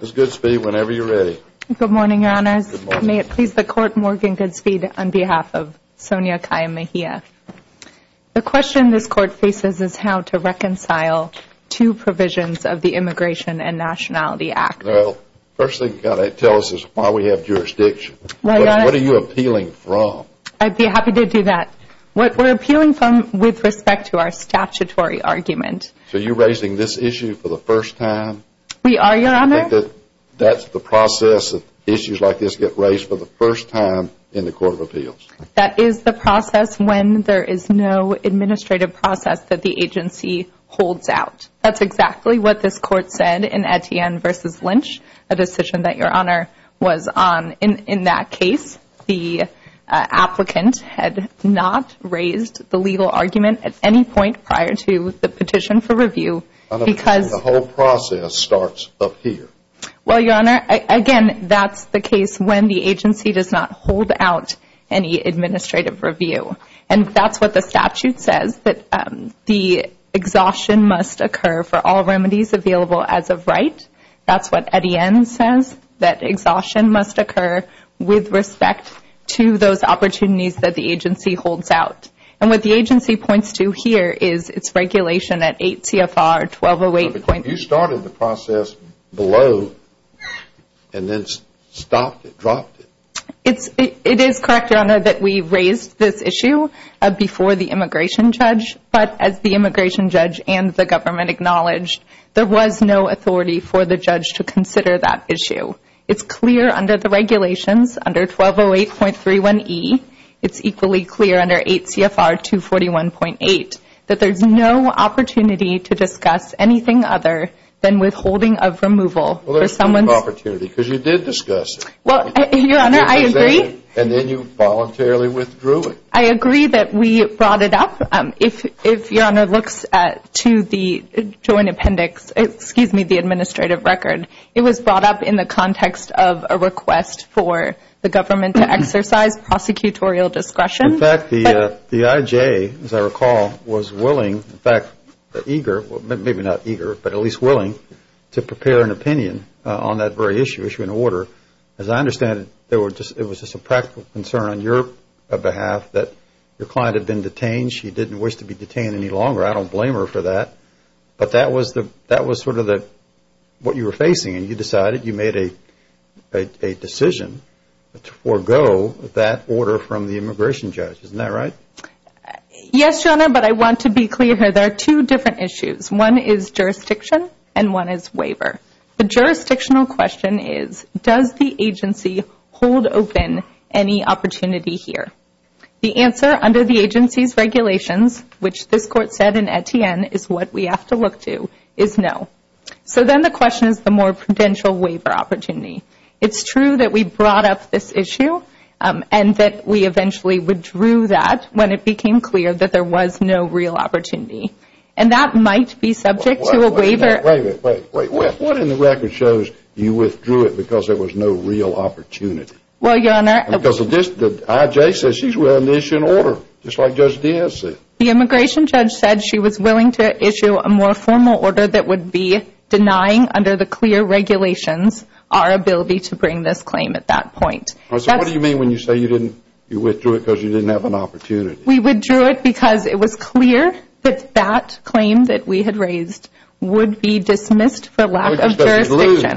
Good morning Your Honors. May it please the Court, Morgan Goodspeed on behalf of Sonia Calla Mejia. The question this Court faces is how to reconcile two provisions of the Immigration and Nationality Act. Well, first thing you've got to tell us is why we have jurisdiction. What are you appealing from? I'd be happy to do that. What we're appealing from with respect to our statutory argument. So you're raising this issue for the first time? We are, Your Honor. Do you think that that's the process that issues like this get raised for the first time in the Court of Appeals? That is the process when there is no administrative process that the agency holds out. That's exactly what this Court said in Etienne v. Lynch, a decision that Your Honor was on. In that case, the applicant had not raised the legal argument at any point prior to the petition for review because The whole process starts up here. Well, Your Honor, again, that's the case when the agency does not hold out any administrative review. And that's what the statute says, that the exhaustion must occur for all remedies available as of right. That's what Etienne says, that the agency holds out. And what the agency points to here is its regulation at 8 CFR 1208.31e. But you started the process below and then stopped it, dropped it. It is correct, Your Honor, that we raised this issue before the immigration judge. But as the immigration judge and the government acknowledged, there was no authority for the judge to consider that issue. It's clear under the regulations, under 1208.31e, it's equally clear under 8 CFR 241.8, that there's no opportunity to discuss anything other than withholding of removal for someone's Well, there's no opportunity because you did discuss it. Well, Your Honor, I agree. And then you voluntarily withdrew it. I agree that we brought it up. If Your Honor, we brought up in the context of a request for the government to exercise prosecutorial discretion. In fact, the IJ, as I recall, was willing, in fact, eager, maybe not eager, but at least willing to prepare an opinion on that very issue, issue and order. As I understand it, it was just a practical concern on your behalf that your client had been detained. She didn't wish to be detained any longer. I don't blame her for that. But that was sort of the, what you were facing and you decided, you made a decision to forego that order from the immigration judge. Isn't that right? Yes, Your Honor, but I want to be clear here. There are two different issues. One is jurisdiction and one is waiver. The jurisdictional question is, does the agency hold open any opportunity here? The answer under the agency's regulations, which this court said in Etienne is what we have to look to, is no. So then the question is the more prudential waiver opportunity. It's true that we brought up this issue and that we eventually withdrew that when it became clear that there was no real opportunity. And that might be subject to a waiver. Wait, wait, wait. What in the record shows you withdrew it because there was no real opportunity? Well, Your Honor. Because of this, the IJ says she's willing to issue an order, just like Judge Diaz said. The immigration judge said she was willing to issue a more formal order that would be denying under the clear regulations our ability to bring this claim at that point. So what do you mean when you say you didn't, you withdrew it because you didn't have an opportunity? We withdrew it because it was clear that that claim that we had raised would be dismissed for lack of jurisdiction.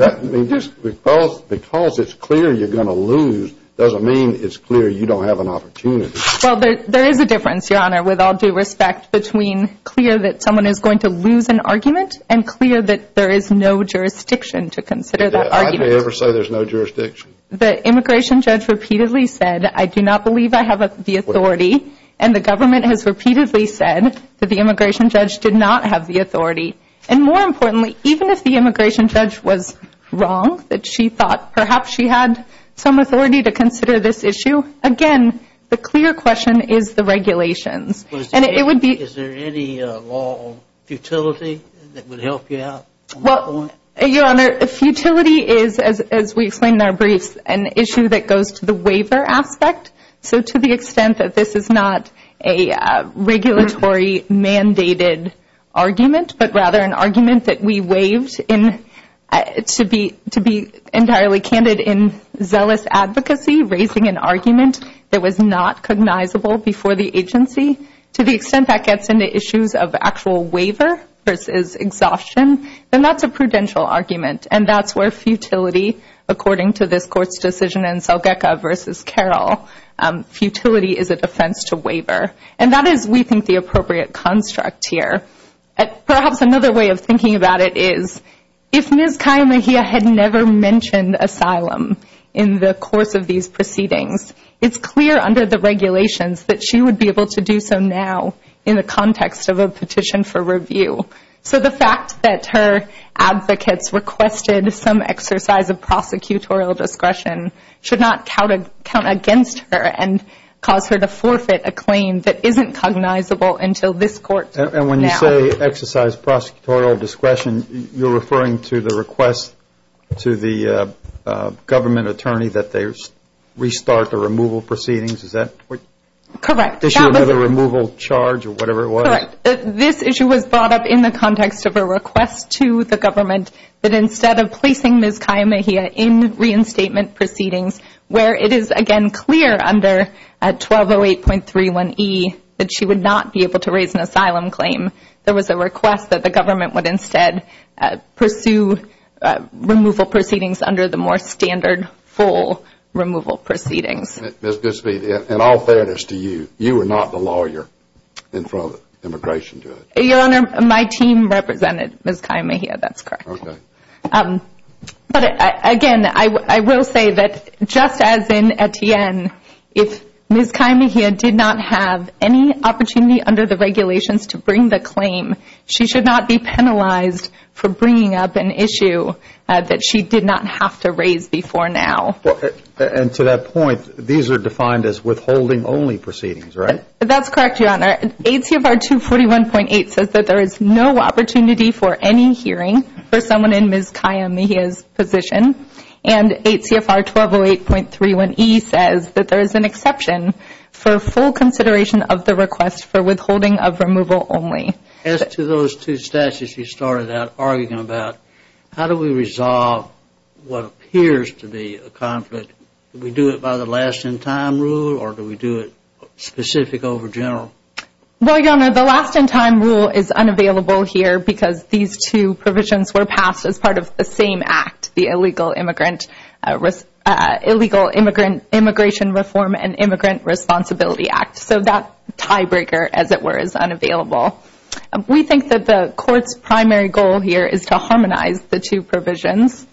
Because it's clear you're going to lose doesn't mean it's clear you don't have an opportunity. Well, there is a difference, Your Honor, with all due respect between clear that someone is going to lose an argument and clear that there is no jurisdiction to consider that argument. Did the IJ ever say there's no jurisdiction? The immigration judge repeatedly said, I do not believe I have the authority. And the government has repeatedly said that the immigration judge did not have the authority. And more importantly, even if the immigration judge was wrong, that she thought perhaps she had some authority to consider this issue, again, the clear question is the regulations. And it would be Is there any law of futility that would help you out? Well, Your Honor, futility is, as we explained in our briefs, an issue that goes to the waiver aspect. So to the extent that this is not a regulatory mandated argument, but rather an argument that we waived to be entirely candid in zealous advocacy, raising an argument that was not cognizable before the agency, to the extent that gets into issues of actual waiver versus exhaustion, then that's a prudential argument. And that's where futility, according to this Court's decision in Selgekha v. Carroll, futility is a defense to waiver. And that is, we think, the appropriate construct here. Perhaps another way of thinking about it is, if Ms. Kaye Mejia had never mentioned asylum in the course of these proceedings, it's clear under the regulations that she would be able to do so now in the context of a petition for review. So the fact that her advocates requested some exercise of prosecutorial discretion should not count against her and isn't cognizable until this Court now. And when you say exercise prosecutorial discretion, you're referring to the request to the government attorney that they restart the removal proceedings? Is that correct? Correct. The issue of the removal charge or whatever it was? Correct. This issue was brought up in the context of a request to the government that instead of placing Ms. Kaye Mejia in reinstatement proceedings, where it is again clear under 1208.31e that she would not be able to raise an asylum claim, there was a request that the government would instead pursue removal proceedings under the more standard full removal proceedings. Ms. Goodspeed, in all fairness to you, you were not the lawyer in front of the immigration judge. Your Honor, my team represented Ms. Kaye Mejia. That's correct. Okay. But again, I will say that just as in Etienne, if Ms. Kaye Mejia did not have any opportunity under the regulations to bring the claim, she should not be penalized for bringing up an issue that she did not have to raise before now. And to that point, these are defined as withholding only proceedings, right? That's correct, Your Honor. ACFR 241.8 says that there is no opportunity for any hearing for someone in Ms. Kaye Mejia's position. And ACFR 1208.31e says that there is an exception for full consideration of the request for withholding of removal only. As to those two statutes you started out arguing about, how do we resolve what appears to be a conflict? Do we do it by the last in time rule or do we do it specific over general? Well, Your Honor, the last in time rule is unavailable here because these two provisions were passed as part of the same act, the Illegal Immigrant, Illegal Immigrant Immigration Reform and Immigrant Responsibility Act. So that tiebreaker, as it were, is unavailable. We think that the court's primary goal here is to harmonize the two provisions.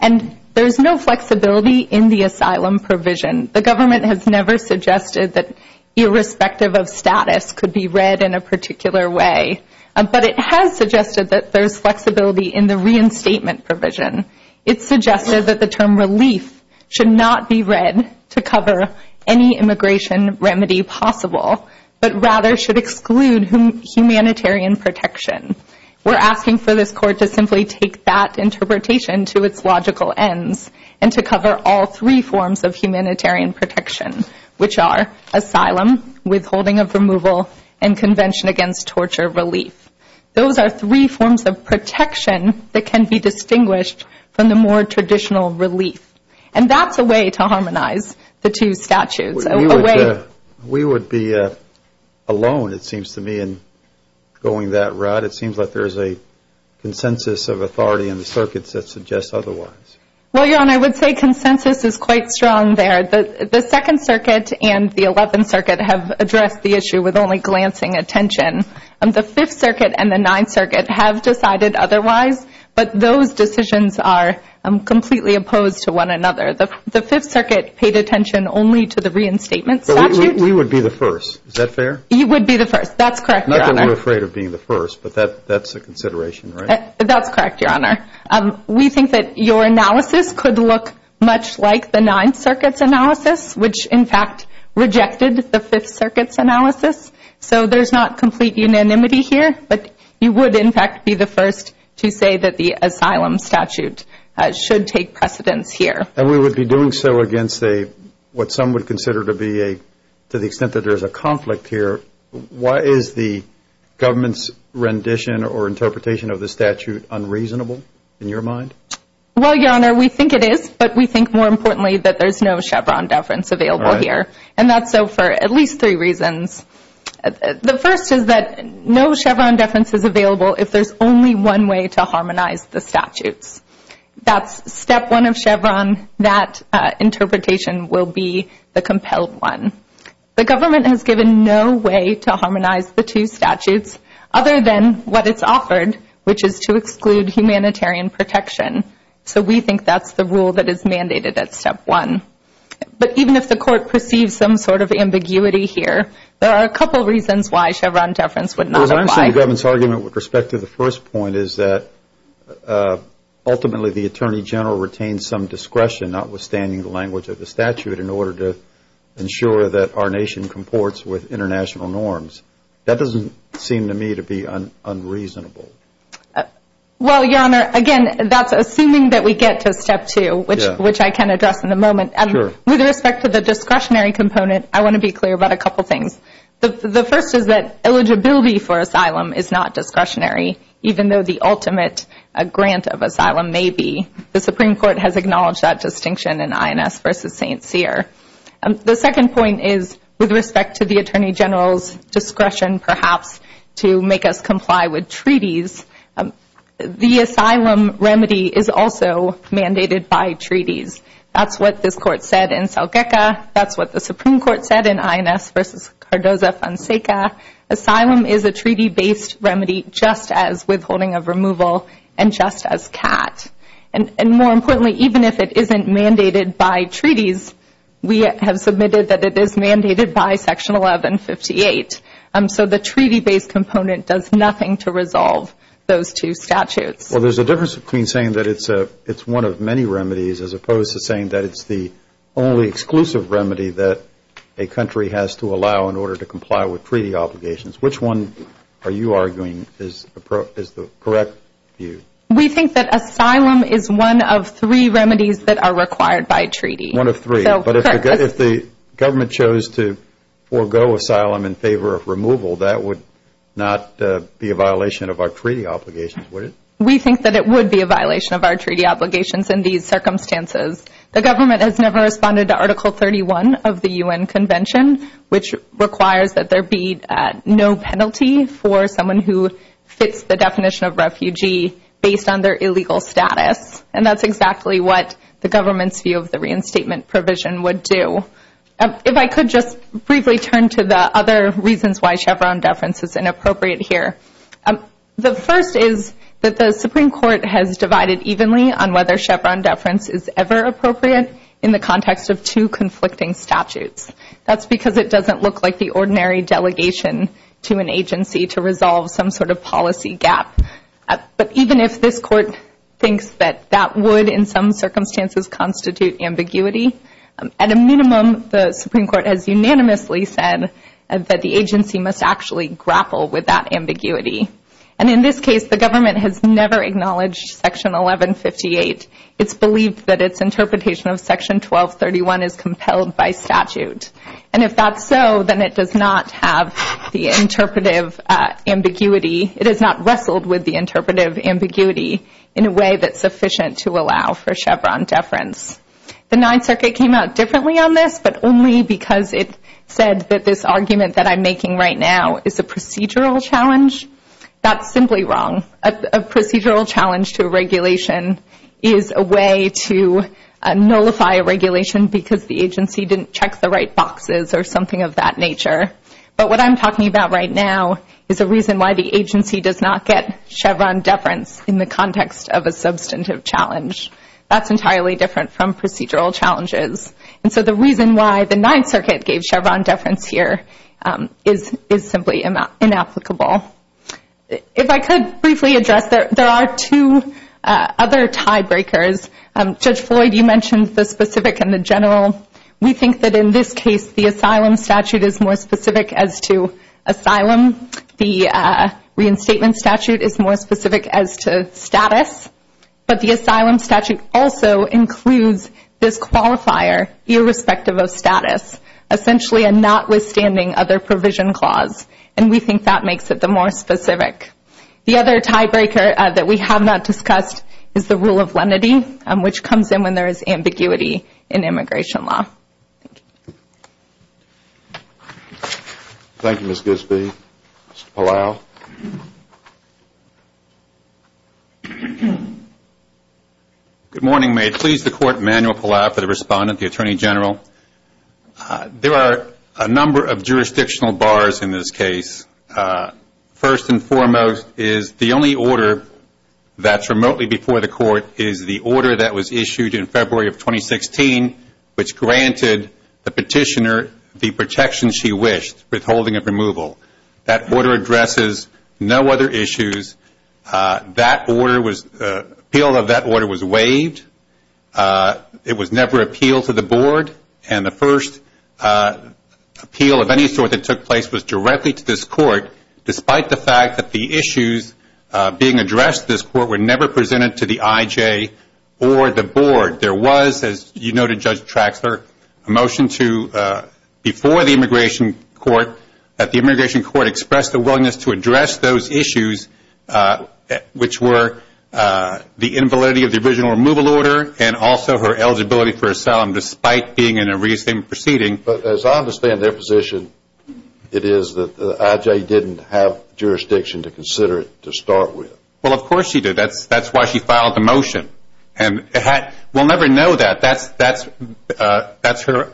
And there's no flexibility in the asylum provision. The government has never suggested that irrespective of status could be read in a particular way. But it has suggested that there's flexibility in the reinstatement provision. It's suggested that the term relief should not be read to cover any immigration remedy possible, but rather should exclude humanitarian protection. We're asking for this court to simply take that interpretation to its logical ends and to cover all three forms of humanitarian protection, which are asylum, withholding of removal, and convention against torture relief. Those are three forms of protection that can be distinguished from the more traditional relief. And that's a way to harmonize the two statutes, a way... We would be alone, it seems to me, in going that route. It seems like there's a consensus of authority in the circuits that suggests otherwise. Well, Your Honor, I would say consensus is quite strong there. The Second Circuit and the Eleventh Circuit have addressed the issue with only glancing attention. The Fifth Circuit and the Ninth Circuit have decided otherwise, but those decisions are completely opposed to one another. The Fifth Circuit paid attention only to the reinstatement statute. We would be the first. Is that fair? You would be the first. That's correct, Your Honor. Not that we're afraid of being the first, but that's a consideration, right? That's correct, Your Honor. We think that your analysis could look much like the Ninth Circuit's analysis, which, in fact, rejected the Fifth Circuit's analysis. So there's not complete unanimity here, but you would, in fact, be the first to say that the asylum statute should take precedence here. And we would be doing so against what some would consider to be, to the extent that there's a conflict here, why is the government's rendition or interpretation of the statute unreasonable, in your mind? Well, Your Honor, we think it is, but we think, more importantly, that there's no Chevron deference available here. And that's so for at least three reasons. The first is that no Chevron deference is available if there's only one way to harmonize the statutes. That's given no way to harmonize the two statutes, other than what it's offered, which is to exclude humanitarian protection. So we think that's the rule that is mandated at step one. But even if the Court perceives some sort of ambiguity here, there are a couple reasons why Chevron deference would not apply. Well, I'm saying the government's argument with respect to the first point is that, ultimately, the Attorney General retains some discretion, notwithstanding the language of the statute, in order to ensure that our nation comports with international norms. That doesn't seem to me to be unreasonable. Well, Your Honor, again, that's assuming that we get to step two, which I can address in a moment. With respect to the discretionary component, I want to be clear about a couple things. The first is that eligibility for asylum is not discretionary, even though the ultimate grant of asylum may be. The Supreme Court has acknowledged that distinction in particular. The second point is, with respect to the Attorney General's discretion, perhaps, to make us comply with treaties, the asylum remedy is also mandated by treaties. That's what this Court said in Salgeca. That's what the Supreme Court said in INS v. Cardoza-Fonseca. Asylum is a treaty-based remedy, just as withholding of removal and just as CAT. And more importantly, even if it isn't mandated by treaties, we have submitted that it is mandated by Section 1158. So the treaty-based component does nothing to resolve those two statutes. Well, there's a difference between saying that it's one of many remedies as opposed to saying that it's the only exclusive remedy that a country has to allow in order to comply with treaty obligations. Which one are you arguing is the correct view? We think that asylum is one of three remedies that are required by treaty. One of three. But if the government chose to forgo asylum in favor of removal, that would not be a violation of our treaty obligations, would it? We think that it would be a violation of our treaty obligations in these circumstances. The government has never responded to Article 31 of the U.N. Convention, which requires that there be no penalty for someone who fits the definition of refugee based on their illegal status. And that's exactly what the government's view of the reinstatement provision would do. If I could just briefly turn to the other reasons why Chevron deference is inappropriate here. The first is that the Supreme Court has divided evenly on whether Chevron deference is ever appropriate in the context of two conflicting statutes. That's because it doesn't look like the ordinary delegation to an agency to resolve some sort of policy gap. But even if this Court thinks that that would in some circumstances constitute ambiguity, at a minimum, the Supreme Court has unanimously said that the agency must actually grapple with that ambiguity. And in this case, the government has never acknowledged Section 1158. It's believed that its interpretation of Section 1231 is compelled by statute. And if that's so, then it does not have the interpretive ambiguity. It has not wrestled with the interpretive ambiguity in a way that's sufficient to allow for Chevron deference. The Ninth Circuit came out differently on this, but only because it said that this argument that I'm making right now is a procedural challenge. That's simply wrong. A procedural challenge to a regulation is a way to nullify a regulation because the agency didn't check the right boxes or something of that nature. But what I'm talking about right now is a reason why the agency does not get Chevron deference in the context of a substantive challenge. That's entirely different from procedural challenges. And so the reason why the Ninth Circuit gave Chevron deference here is simply inapplicable. If I could briefly address, there are two other tiebreakers. Judge Floyd, you mentioned the specific and the general. We think that in this case, the asylum statute is more specific as to asylum. The reinstatement statute is more specific as to status. But the asylum statute also includes this qualifier irrespective of status, essentially a notwithstanding other more specific. The other tiebreaker that we have not discussed is the rule of lenity, which comes in when there is ambiguity in immigration law. Thank you, Ms. Gisby. Mr. Palau. Good morning. May it please the Court, Emanuel Palau for the respondent, the Attorney General. There are a number of jurisdictional bars in this case. First and foremost is the only order that's remotely before the Court is the order that was issued in February of 2016, which granted the petitioner the protection she wished, withholding of removal. That order addresses no other issues. Appeal of that order was waived. It was never appealed to the Board. The first appeal of any sort that took place was directly to this Court, despite the fact that the issues being addressed to this Court were never presented to the IJ or the Board. There was, as you noted, Judge Traxler, a motion before the Immigration Court that the Immigration Court express their willingness to address those issues, which were the invalidity of the original removal order and also her eligibility for asylum, despite being in a re-estatement proceeding. But as I understand their position, it is that the IJ didn't have jurisdiction to consider it to start with. Well, of course she did. That's why she filed the motion. We'll never know that. That's her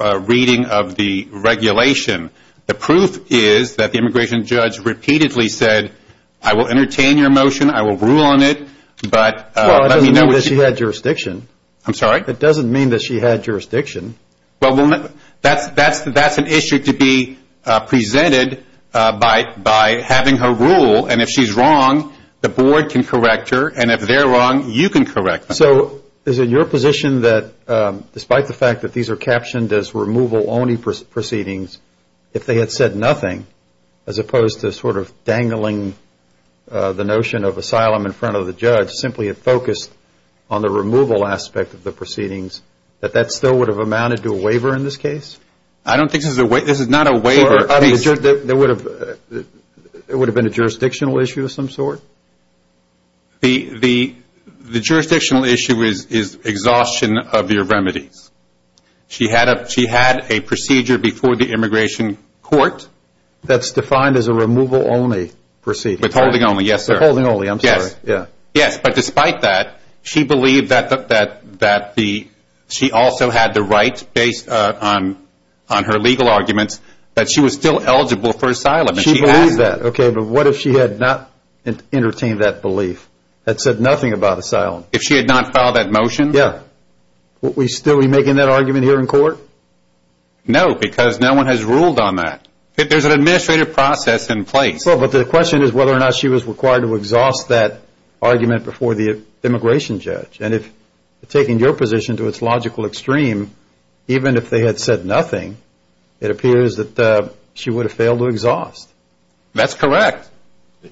reading of the regulation. The proof is that the Immigration Judge repeatedly said, I will entertain your motion, I will rule on it, but let me know what you think. Well, it doesn't mean that she had jurisdiction. I'm sorry? It doesn't mean that she had jurisdiction. Well, that's an issue to be presented by having her rule, and if she's wrong, the Board can correct her, and if they're wrong, you can correct them. So is it your position that, despite the fact that these are captioned as removal-only proceedings, if they had said nothing, as opposed to sort of dangling the case in front of the judge, simply had focused on the removal aspect of the proceedings, that that still would have amounted to a waiver in this case? I don't think this is a waiver. This is not a waiver. It would have been a jurisdictional issue of some sort? The jurisdictional issue is exhaustion of your remedies. She had a procedure before the Immigration Court that's defined as a removal-only proceeding. Withholding-only, yes, sir. Withholding-only, I'm sorry. Yes, but despite that, she believed that she also had the right, based on her legal arguments, that she was still eligible for asylum. She believed that. Okay, but what if she had not entertained that belief, had said nothing about asylum? If she had not filed that motion? Yeah. Are we still making that argument here in court? No, because no one has ruled on that. There's an administrative process in place. Well, but the question is whether or not she was required to exhaust that argument before the immigration judge. And if, taking your position to its logical extreme, even if they had said nothing, it appears that she would have failed to exhaust. That's correct.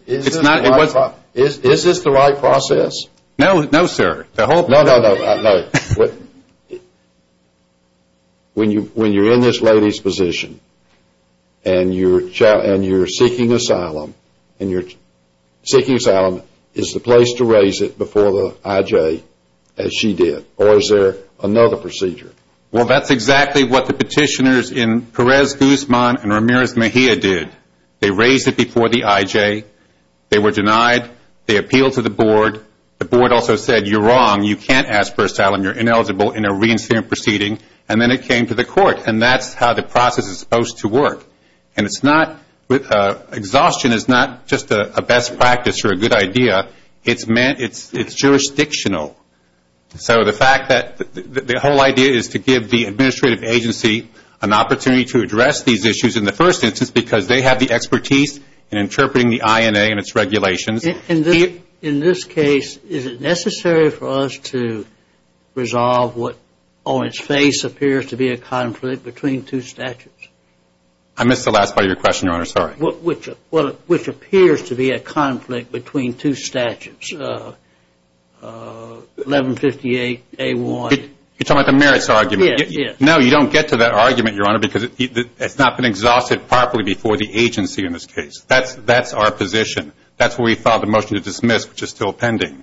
Is this the right process? No, sir. No, no, no. When you're in this lady's position, and you're seeking asylum, and you're seeking asylum, is the place to raise it before the IJ as she did? Or is there another procedure? Well, that's exactly what the petitioners in Perez-Guzman and Ramirez-Mejia did. They did. The board also said, you're wrong. You can't ask for asylum. You're ineligible in a reinstated proceeding. And then it came to the court. And that's how the process is supposed to work. And it's not, exhaustion is not just a best practice or a good idea. It's jurisdictional. So the fact that, the whole idea is to give the administrative agency an opportunity to address these issues in the first instance, because they have the authority to do so. Is it necessary for us to resolve what on its face appears to be a conflict between two statutes? I missed the last part of your question, Your Honor. Sorry. Which appears to be a conflict between two statutes, 1158A1. You're talking about the merits argument? Yes. No, you don't get to that argument, Your Honor, because it's not been exhausted properly before the agency in this case. That's our position. That's where we filed the motion to dismiss, which is still pending.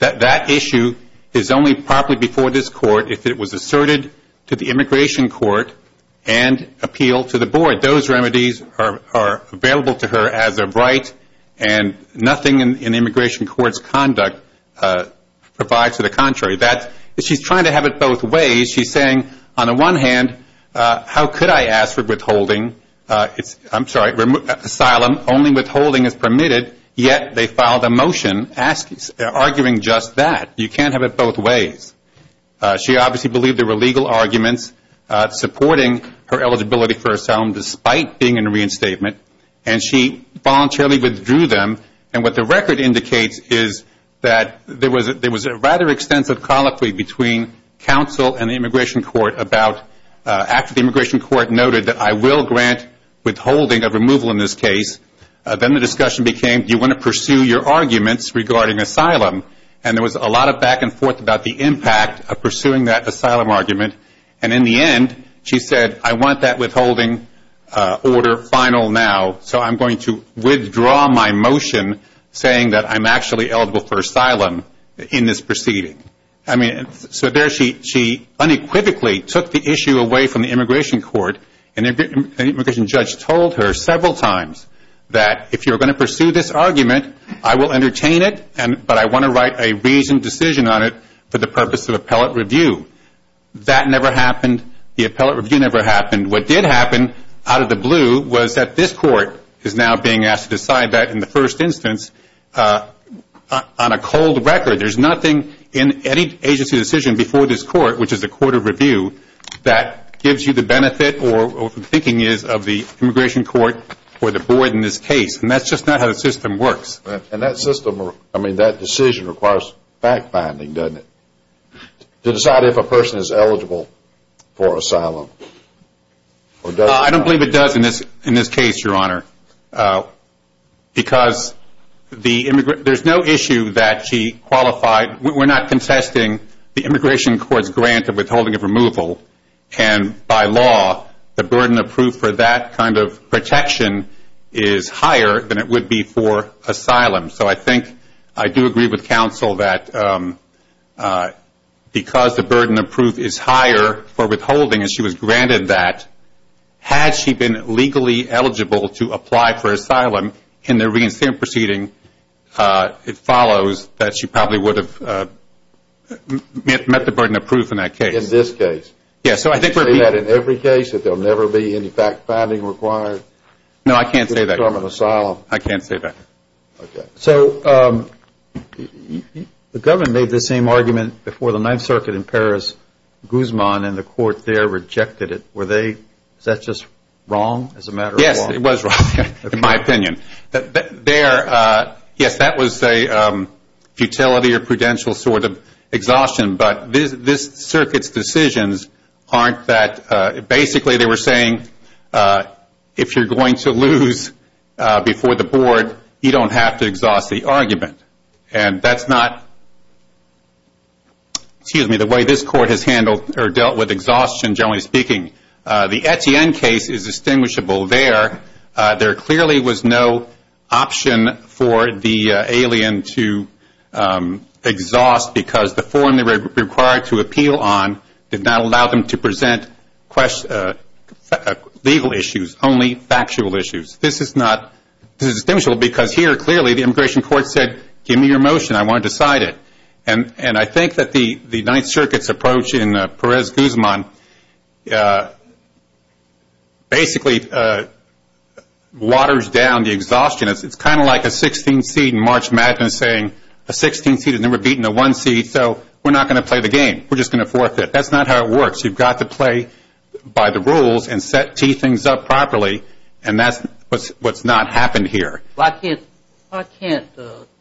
That issue is only properly before this court if it was asserted to the immigration court and appealed to the board. Those remedies are available to her as a right, and nothing in immigration court's conduct provides to the contrary. She's trying to have it both ways. She's saying, on the one hand, how could I ask for withholding? I'm sorry, asylum, only withholding is permitted, yet they filed a motion arguing just that. You can't have it both ways. She obviously believed there were legal arguments supporting her eligibility for asylum despite being in reinstatement, and she voluntarily withdrew them. What the record indicates is that there was a rather extensive colloquy between counsel and the immigration court after the immigration court noted that I will grant withholding of removal in this case. Then the discussion became, do you want to pursue your arguments regarding asylum? There was a lot of back and forth about the impact of pursuing that asylum argument. In the end, she said, I want that withholding order final now, so I'm going to withdraw my motion saying that I'm actually eligible for asylum in this proceeding. I mean, so there she unequivocally took the issue away from the immigration court, and the immigration judge told her several times that if you're going to pursue this argument, I will entertain it, but I want to write a reasoned decision on it for the purpose of appellate review. That never happened. The appellate review never happened. What did happen out of the blue was that this court is now being asked to decide that in the first instance on a cold record. There's nothing in any agency decision before this court, which is a court of review, that gives you the benefit or thinking is of the immigration court or the board in this case. That's just not how the system works. That system, I mean, that decision requires fact-finding, doesn't it? To decide if a person is eligible for asylum. I don't believe it does in this case, Your Honor, because there's no issue that she qualified. We're not contesting the immigration court's grant of withholding of removal, and by law, the burden of proof for that kind of protection is higher than it would be for asylum. So I think I do agree with counsel that because the burden of proof is higher for withholding and she was granted that, had she been legally eligible to apply for asylum in the reinstatement proceeding, it follows that she probably would have met the burden of proof in that case. In this case? Yes, so I think we're being... Do you say that in every case, that there will never be any fact-finding required? No, I can't say that. To determine asylum? I can't say that. So the government made the same argument before the Ninth Circuit in Paris. Guzman and the court rejected it. Was that just wrong as a matter of law? Yes, it was wrong, in my opinion. Yes, that was a futility or prudential sort of exhaustion, but this circuit's decisions aren't that... Basically, they were saying, if you're going to lose before the board, you don't have to exhaust the argument. And that's not... Excuse me, speaking. The Etienne case is distinguishable there. There clearly was no option for the alien to exhaust because the form they were required to appeal on did not allow them to present legal issues, only factual issues. This is not... This is distinguishable because here, clearly, the immigration court said, give me your motion, I want to decide it. And I think that the Ninth Circuit's approach in Perez-Guzman basically waters down the exhaustion. It's kind of like a 16th seed in March Madden saying, a 16th seed has never beaten a one seed, so we're not going to play the game. We're just going to forfeit. That's not how it works. You've got to play by the rules and set two things up properly, and that's what's not happened here. Why can't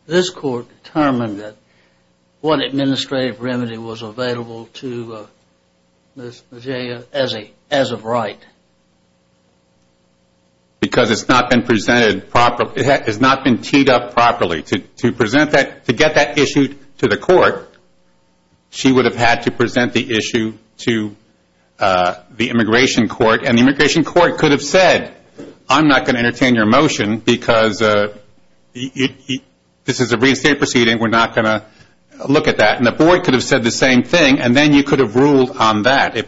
this court determine that one administrative remedy was available to Ms. Majeya as of right? Because it's not been presented properly. It has not been teed up properly. To present that, to get that issued to the court, she would have had to present the issue to the immigration court, and the immigration court could have said, I'm not going to entertain your motion because this is a reinstate proceeding, we're not going to look at that. And the board could have said the same thing, and then you could have ruled on that.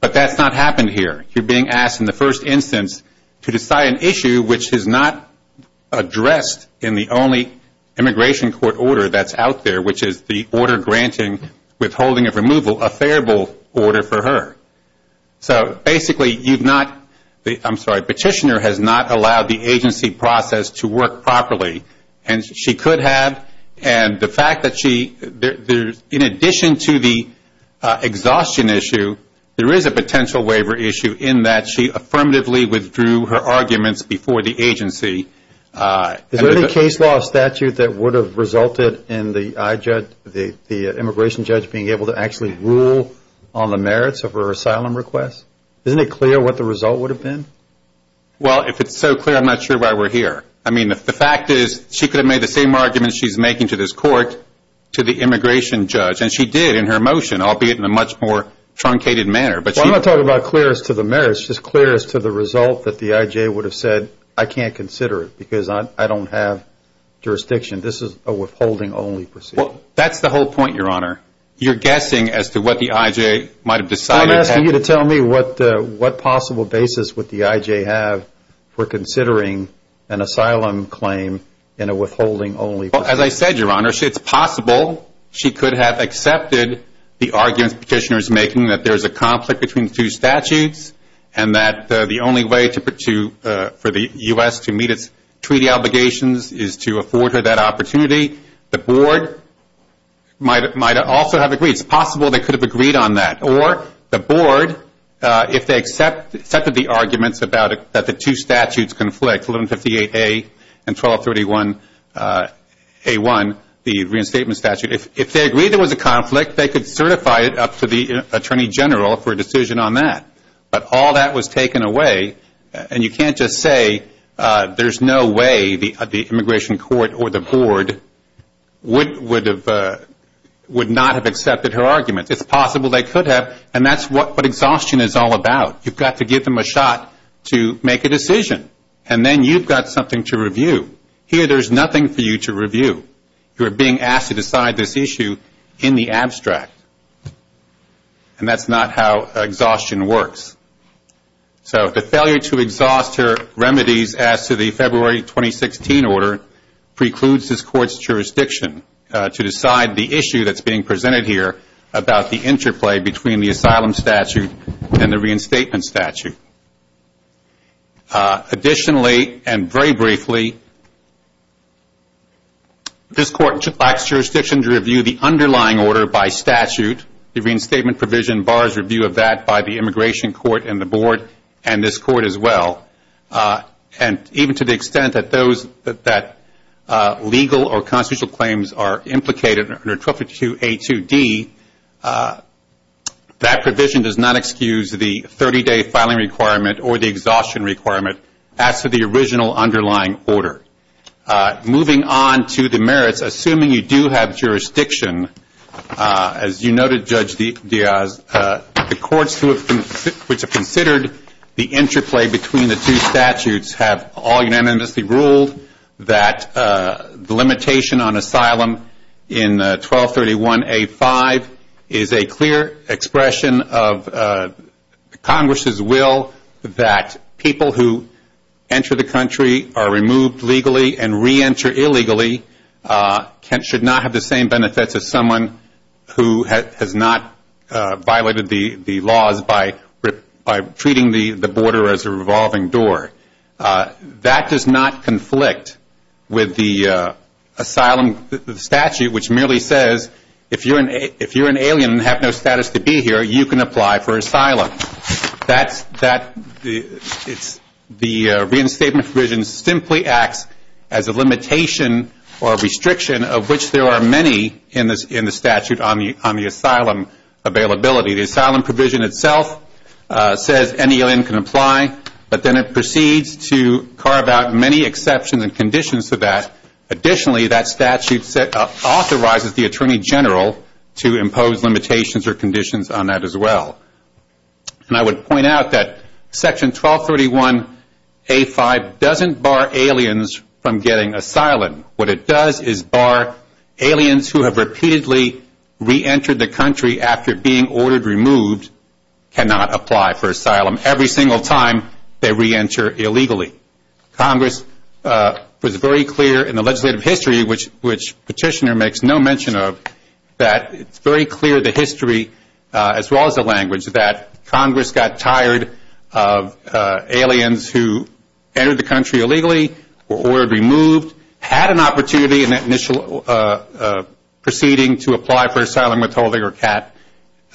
But that's not happened here. You're being asked in the first instance to decide an issue which is not addressed in the only immigration court order that's out there, which is the order granting withholding of removal, a favorable order for her. So basically you've not, I'm sorry, the petitioner has not allowed the agency process to work properly, and she could have, and the fact that she, in addition to the exhaustion issue, there is a potential waiver issue in that she affirmatively withdrew her arguments before the agency. Is there any case law statute that would have resulted in the immigration judge being able to actually rule on the merits of her asylum request? Isn't it clear what the result would have been? Well, if it's so clear, I'm not sure why we're here. I mean, the fact is, she could have made the same arguments she's making to this court to the immigration judge, and she did in her motion, albeit in a much more truncated manner. Well, I'm not talking about clearest to the merits, just clearest to the result that the IJ would have said, I can't consider it because I don't have jurisdiction. This is a withholding only proceeding. Well, that's the whole point, your honor. You're guessing as to what the IJ might have decided. I'm asking you to tell me what possible basis would the IJ have for considering an asylum claim in a withholding only proceeding. Well, as I said, your honor, it's possible she could have accepted the arguments the petitioner is making, that there's a conflict between the two statutes, and that the only way for the U.S. to meet its treaty obligations is to afford her that opportunity. The board might also have agreed. It's possible they could have agreed on that. Or the board, if they accepted the arguments that the two statutes conflict, 1158A and 1231A1, the reinstatement statute, if they agreed there was a conflict, they could certify it up to the attorney general for a decision on that. But all that was taken away, and you can't just say there's no way the immigration court or the board would not have accepted her arguments. It's possible they could have, and that's what exhaustion is all about. You've got to give them a shot to make a decision, and then you've got something to review. Here there's nothing for you to review. You're being asked to decide this issue in the abstract, and that's not how exhaustion works. So, the failure to exhaust her remedies as to the February 2016 order precludes this court's jurisdiction to decide the issue that's being presented here about the interplay between the asylum statute and the reinstatement statute. Additionally, and very briefly, this court lacks jurisdiction to review the underlying order by statute. The reinstatement provision borrows review of that by the immigration court and the board, and this court as well. And even to the extent that legal or constitutional claims are implicated under 1252A2D, that provision does not excuse the 30-day filing requirement or the exhaustion requirement as to the original underlying order. Moving on to the merits, assuming you do have jurisdiction, as you noted, Judge Diaz, the courts which have considered the interplay between the two statutes have all unanimously ruled that the limitation on asylum in 1231A5 is a clear expression of Congress's will that people who enter the country are removed legally and reenter illegally should not have the same benefits as someone who has not violated the laws by treating the border as a revolving door. That does not conflict with the asylum statute, which merely says if you're an alien and have no status to be here, you can apply for asylum. The reinstatement provision simply acts as a limitation or restriction of which there are many in the statute on the asylum availability. The asylum provision itself says any alien can apply, but then it proceeds to carve out many exceptions and conditions for that. Additionally, that statute authorizes the Attorney General to impose limitations or conditions on that as well. I would point out that section 1231A5 doesn't bar aliens from getting asylum. What it does is bar aliens who have repeatedly reentered the country after being ordered removed cannot apply for asylum every single time they reenter illegally. Congress was very clear in the legislative history, which Petitioner makes no mention of, that it's very clear in the history as well as the language that Congress got tired of aliens who entered the country illegally or were removed, had an opportunity in that initial proceeding to apply for asylum withholding or CAT,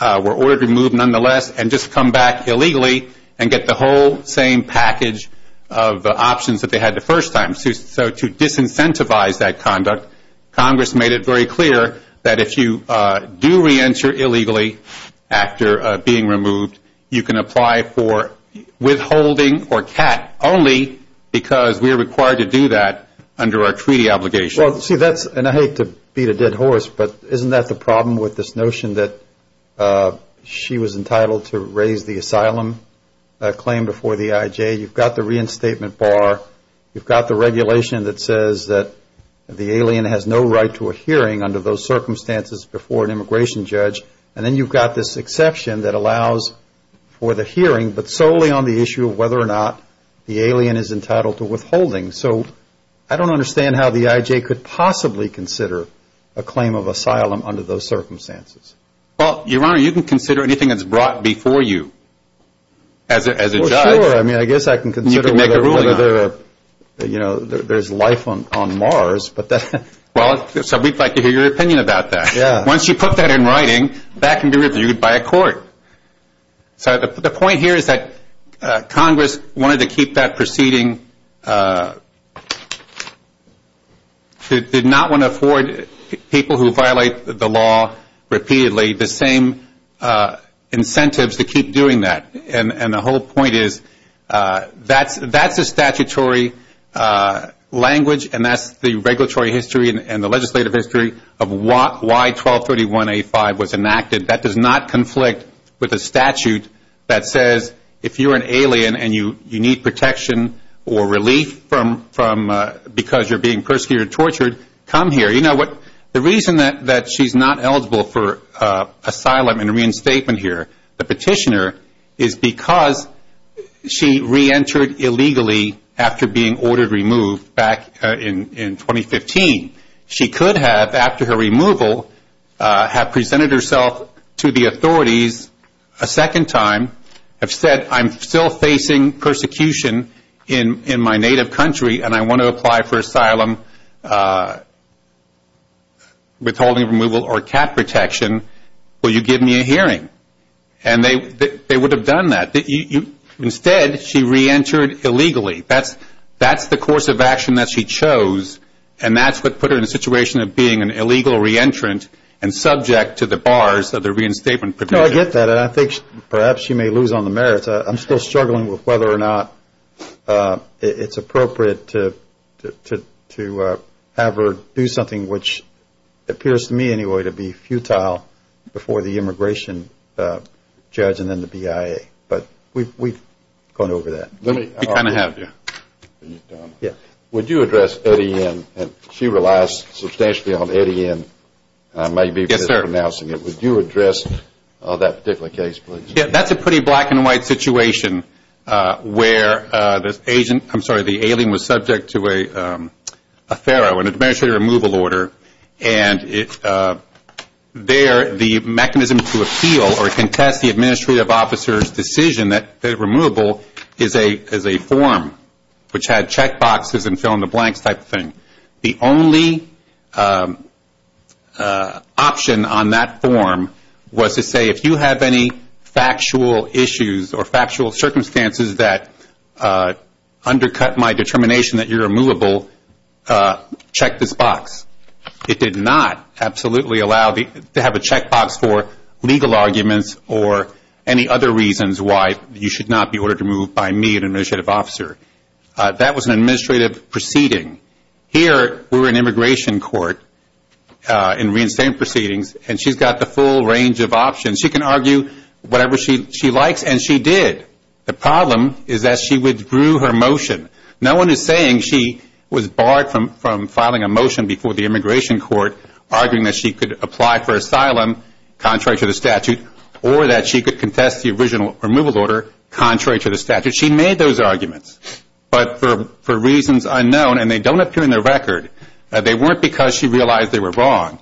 were ordered removed nonetheless and just come back illegally and get the whole same package of options that they had the first time. So to disincentivize that conduct, Congress made it very clear that if you do reenter illegally after being removed, you can apply for withholding or CAT only because we are required to do that under our treaty obligation. Well, see that's, and I hate to beat a dead horse, but isn't that the problem with this asylum claim before the IJ? You've got the reinstatement bar. You've got the regulation that says that the alien has no right to a hearing under those circumstances before an immigration judge. And then you've got this exception that allows for the hearing, but solely on the issue of whether or not the alien is entitled to withholding. So I don't understand how the IJ could possibly consider a claim of asylum under those circumstances. Well, Your Honor, you can consider anything that's brought before you as a judge. Well, sure. I mean, I guess I can consider whether there's life on Mars, but that's... Well, so we'd like to hear your opinion about that. Once you put that in writing, that can be reviewed by a court. So the point here is that Congress wanted to keep that proceeding, did not want to afford people who violate the law repeatedly the same incentives to keep doing that. And the whole point is that's a statutory language, and that's the regulatory history and the legislative history of why 1231A5 was enacted. That does not conflict with a statute that says if you're an alien and you need protection or relief because you're being persecuted or tortured, come here. You know what? The reason that she's not eligible for asylum and reinstatement here, the petitioner, is because she reentered illegally after being ordered removed back in 2015. She could have, after her removal, have presented herself to the authorities a second time, have said, I'm still facing persecution in my native country, and I want to apply for asylum, withholding removal, or cap protection. Will you give me a hearing? And they would have done that. Instead, she reentered illegally. That's the course of action that she chose, and that's what put her in a situation of being an illegal reentrant and subject to the bars of the reinstatement petition. No, I get that, and I think perhaps she may lose on the merits. I'm still struggling with whether or not it's appropriate to have her do something which appears to me anyway to be futile before the immigration judge and then the BIA. But we've gone over that. Let me kind of have you. Would you address Eddie N.? She relies substantially on Eddie N., and I may be mispronouncing it. Would you address that particular case, please? Yes, that's a pretty black and white situation where the alien was subject to a FARA, an Administrative Removal Order, and there the mechanism to appeal or contest the administrative officer's decision that they're removable is a form which had checkboxes and fill in the blanks type of thing. The only option on that form was to say, if you have any factual issues or factual circumstances that undercut my determination that you're removable, check this box. It did not absolutely allow to have a checkbox for legal arguments or any other reasons why you should not be ordered to move by me, an administrative officer. That was an administrative proceeding. Here, we're an immigration court in reinstating proceedings, and she's got the full range of options. She can argue whatever she likes, and she did. The problem is that she withdrew her motion. No one is saying she was barred from filing a motion before the immigration court arguing that she could apply for asylum contrary to the statute or that she could contest the original removal order contrary to the statute. She made those arguments, but for reasons unknown, and they don't appear in the record, they weren't because she realized they were wrong.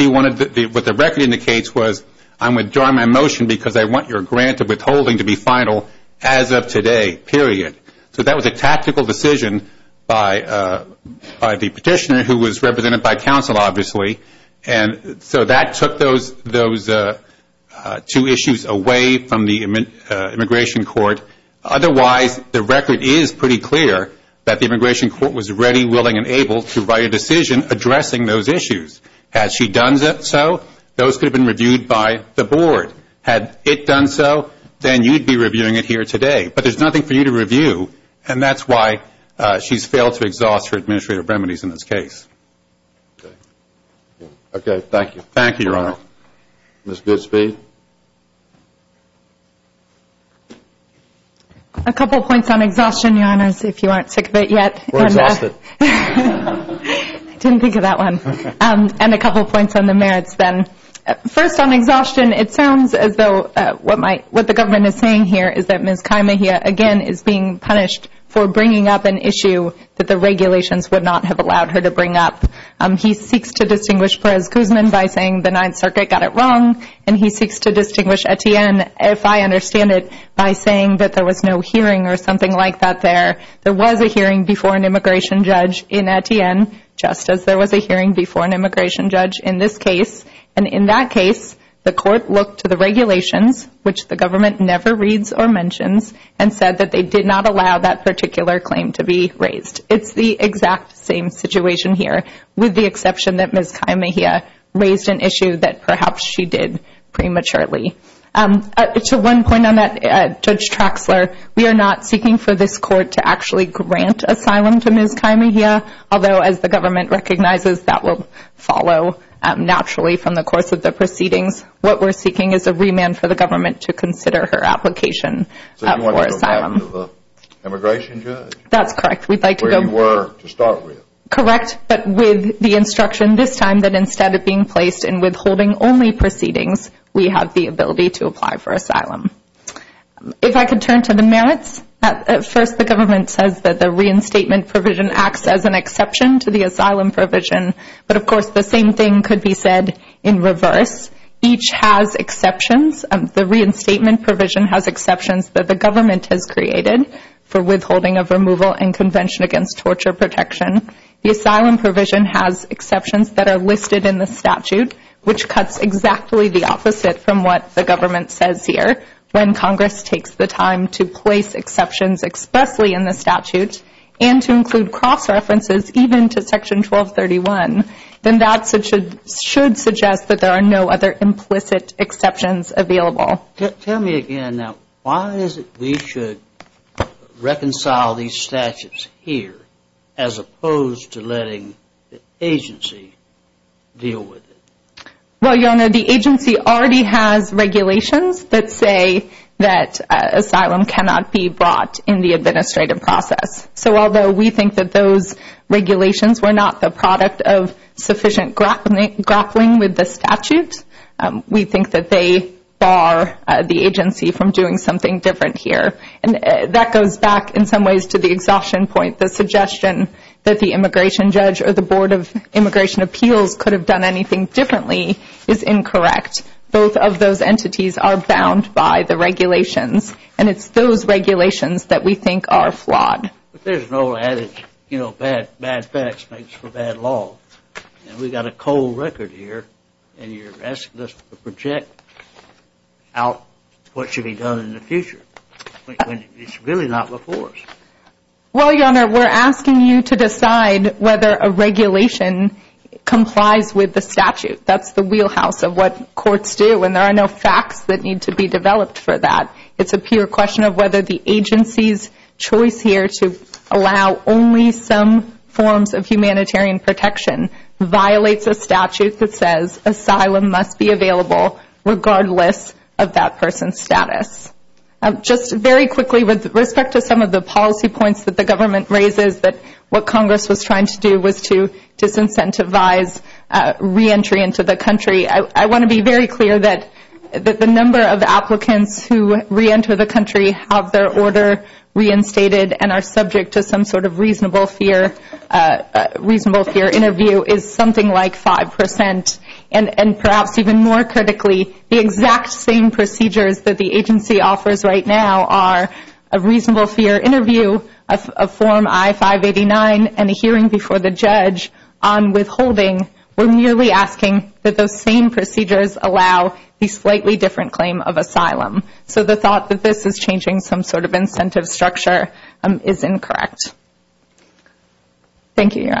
What the record indicates was I'm withdrawing my motion because I want your grant of withholding to be final as of today, period. That was a tactical decision by the petitioner who was represented by counsel, obviously. That took those two issues away from the immigration court. Otherwise, the record is pretty clear that the immigration court was ready, willing, and able to write a decision addressing those issues. Had she done so, those could have been reviewed by the board. Had it done so, then you'd be reviewing it here today, but there's nothing for you to review, and that's why she's failed to exhaust her administrative remedies in this case. Okay, thank you. Thank you, Your Honor. Ms. Goodspeed? A couple points on exhaustion, Your Honor, if you aren't sick of it yet. We're exhausted. I didn't think of that one. And a couple points on the merits then. First, on exhaustion, it sounds as though what the government is saying here is that Ms. Kymahia, again, is being punished for bringing up an issue that the regulations would not have allowed her to bring up. He seeks to distinguish Perez-Guzman by saying the Ninth Circuit got it wrong, and he seeks to distinguish Etienne, if I understand it, by saying that there was no hearing or something like that there. There was a hearing before an immigration judge in Etienne, just as there was a hearing before an immigration judge in this case. And in that case, the court looked to the regulations, which the government never reads or mentions, and said that they did not allow that particular claim to be raised. It's the exact same situation. Here, with the exception that Ms. Kymahia raised an issue that perhaps she did prematurely. To one point on that, Judge Traxler, we are not seeking for this court to actually grant asylum to Ms. Kymahia, although as the government recognizes, that will follow naturally from the course of the proceedings. What we're seeking is a remand for the government to consider her application for asylum. So you want to go back to the immigration judge? That's correct. We'd like to go back to... Where you were to start with. Correct, but with the instruction this time that instead of being placed in withholding only proceedings, we have the ability to apply for asylum. If I could turn to the merits. First, the government says that the reinstatement provision acts as an exception to the asylum provision, but of course the same thing could be said in reverse. Each has exceptions. The reinstatement provision has exceptions that the government has created for withholding of removal and Convention Against Torture Protection. The asylum provision has exceptions that are listed in the statute, which cuts exactly the opposite from what the government says here. When Congress takes the time to place exceptions expressly in the statute and to include cross-references even to Section 1231, then that should suggest that there are no other implicit exceptions available. Tell me again now, why is it we should reconcile these statutes here as opposed to letting the agency deal with it? Well, Jonah, the agency already has regulations that say that asylum cannot be brought in the administrative process. So although we think that those regulations were not the agency from doing something different here, that goes back in some ways to the exhaustion point. The suggestion that the immigration judge or the Board of Immigration Appeals could have done anything differently is incorrect. Both of those entities are bound by the regulations and it's those regulations that we think are flawed. But there's no adage, you know, bad facts makes for bad law. We've got a cold record here and you're asking us to project out what should be done in the future. It's really not before us. Well, your Honor, we're asking you to decide whether a regulation complies with the statute. That's the wheelhouse of what courts do and there are no facts that need to be developed for that. It's a pure question of whether the agency's choice here to allow only some forms of humanitarian protection violates a statute that says asylum must be available regardless of that person's status. Just very quickly with respect to some of the policy points that the government raises that what Congress was trying to do was to disincentivize reentry into the country. I want to be very clear that the number of applicants who reenter the country have their order reinstated and are subject to some sort of reasonable fear interview is something like 5%. And perhaps even more critically, the exact same procedures that the agency offers right now are a reasonable fear interview, a form I-589, and a hearing before the judge on withholding. We're merely asking that those same procedures allow a slightly different claim of asylum. So the thought that this is changing some sort of incentive structure is incorrect. Thank you, Your Honors.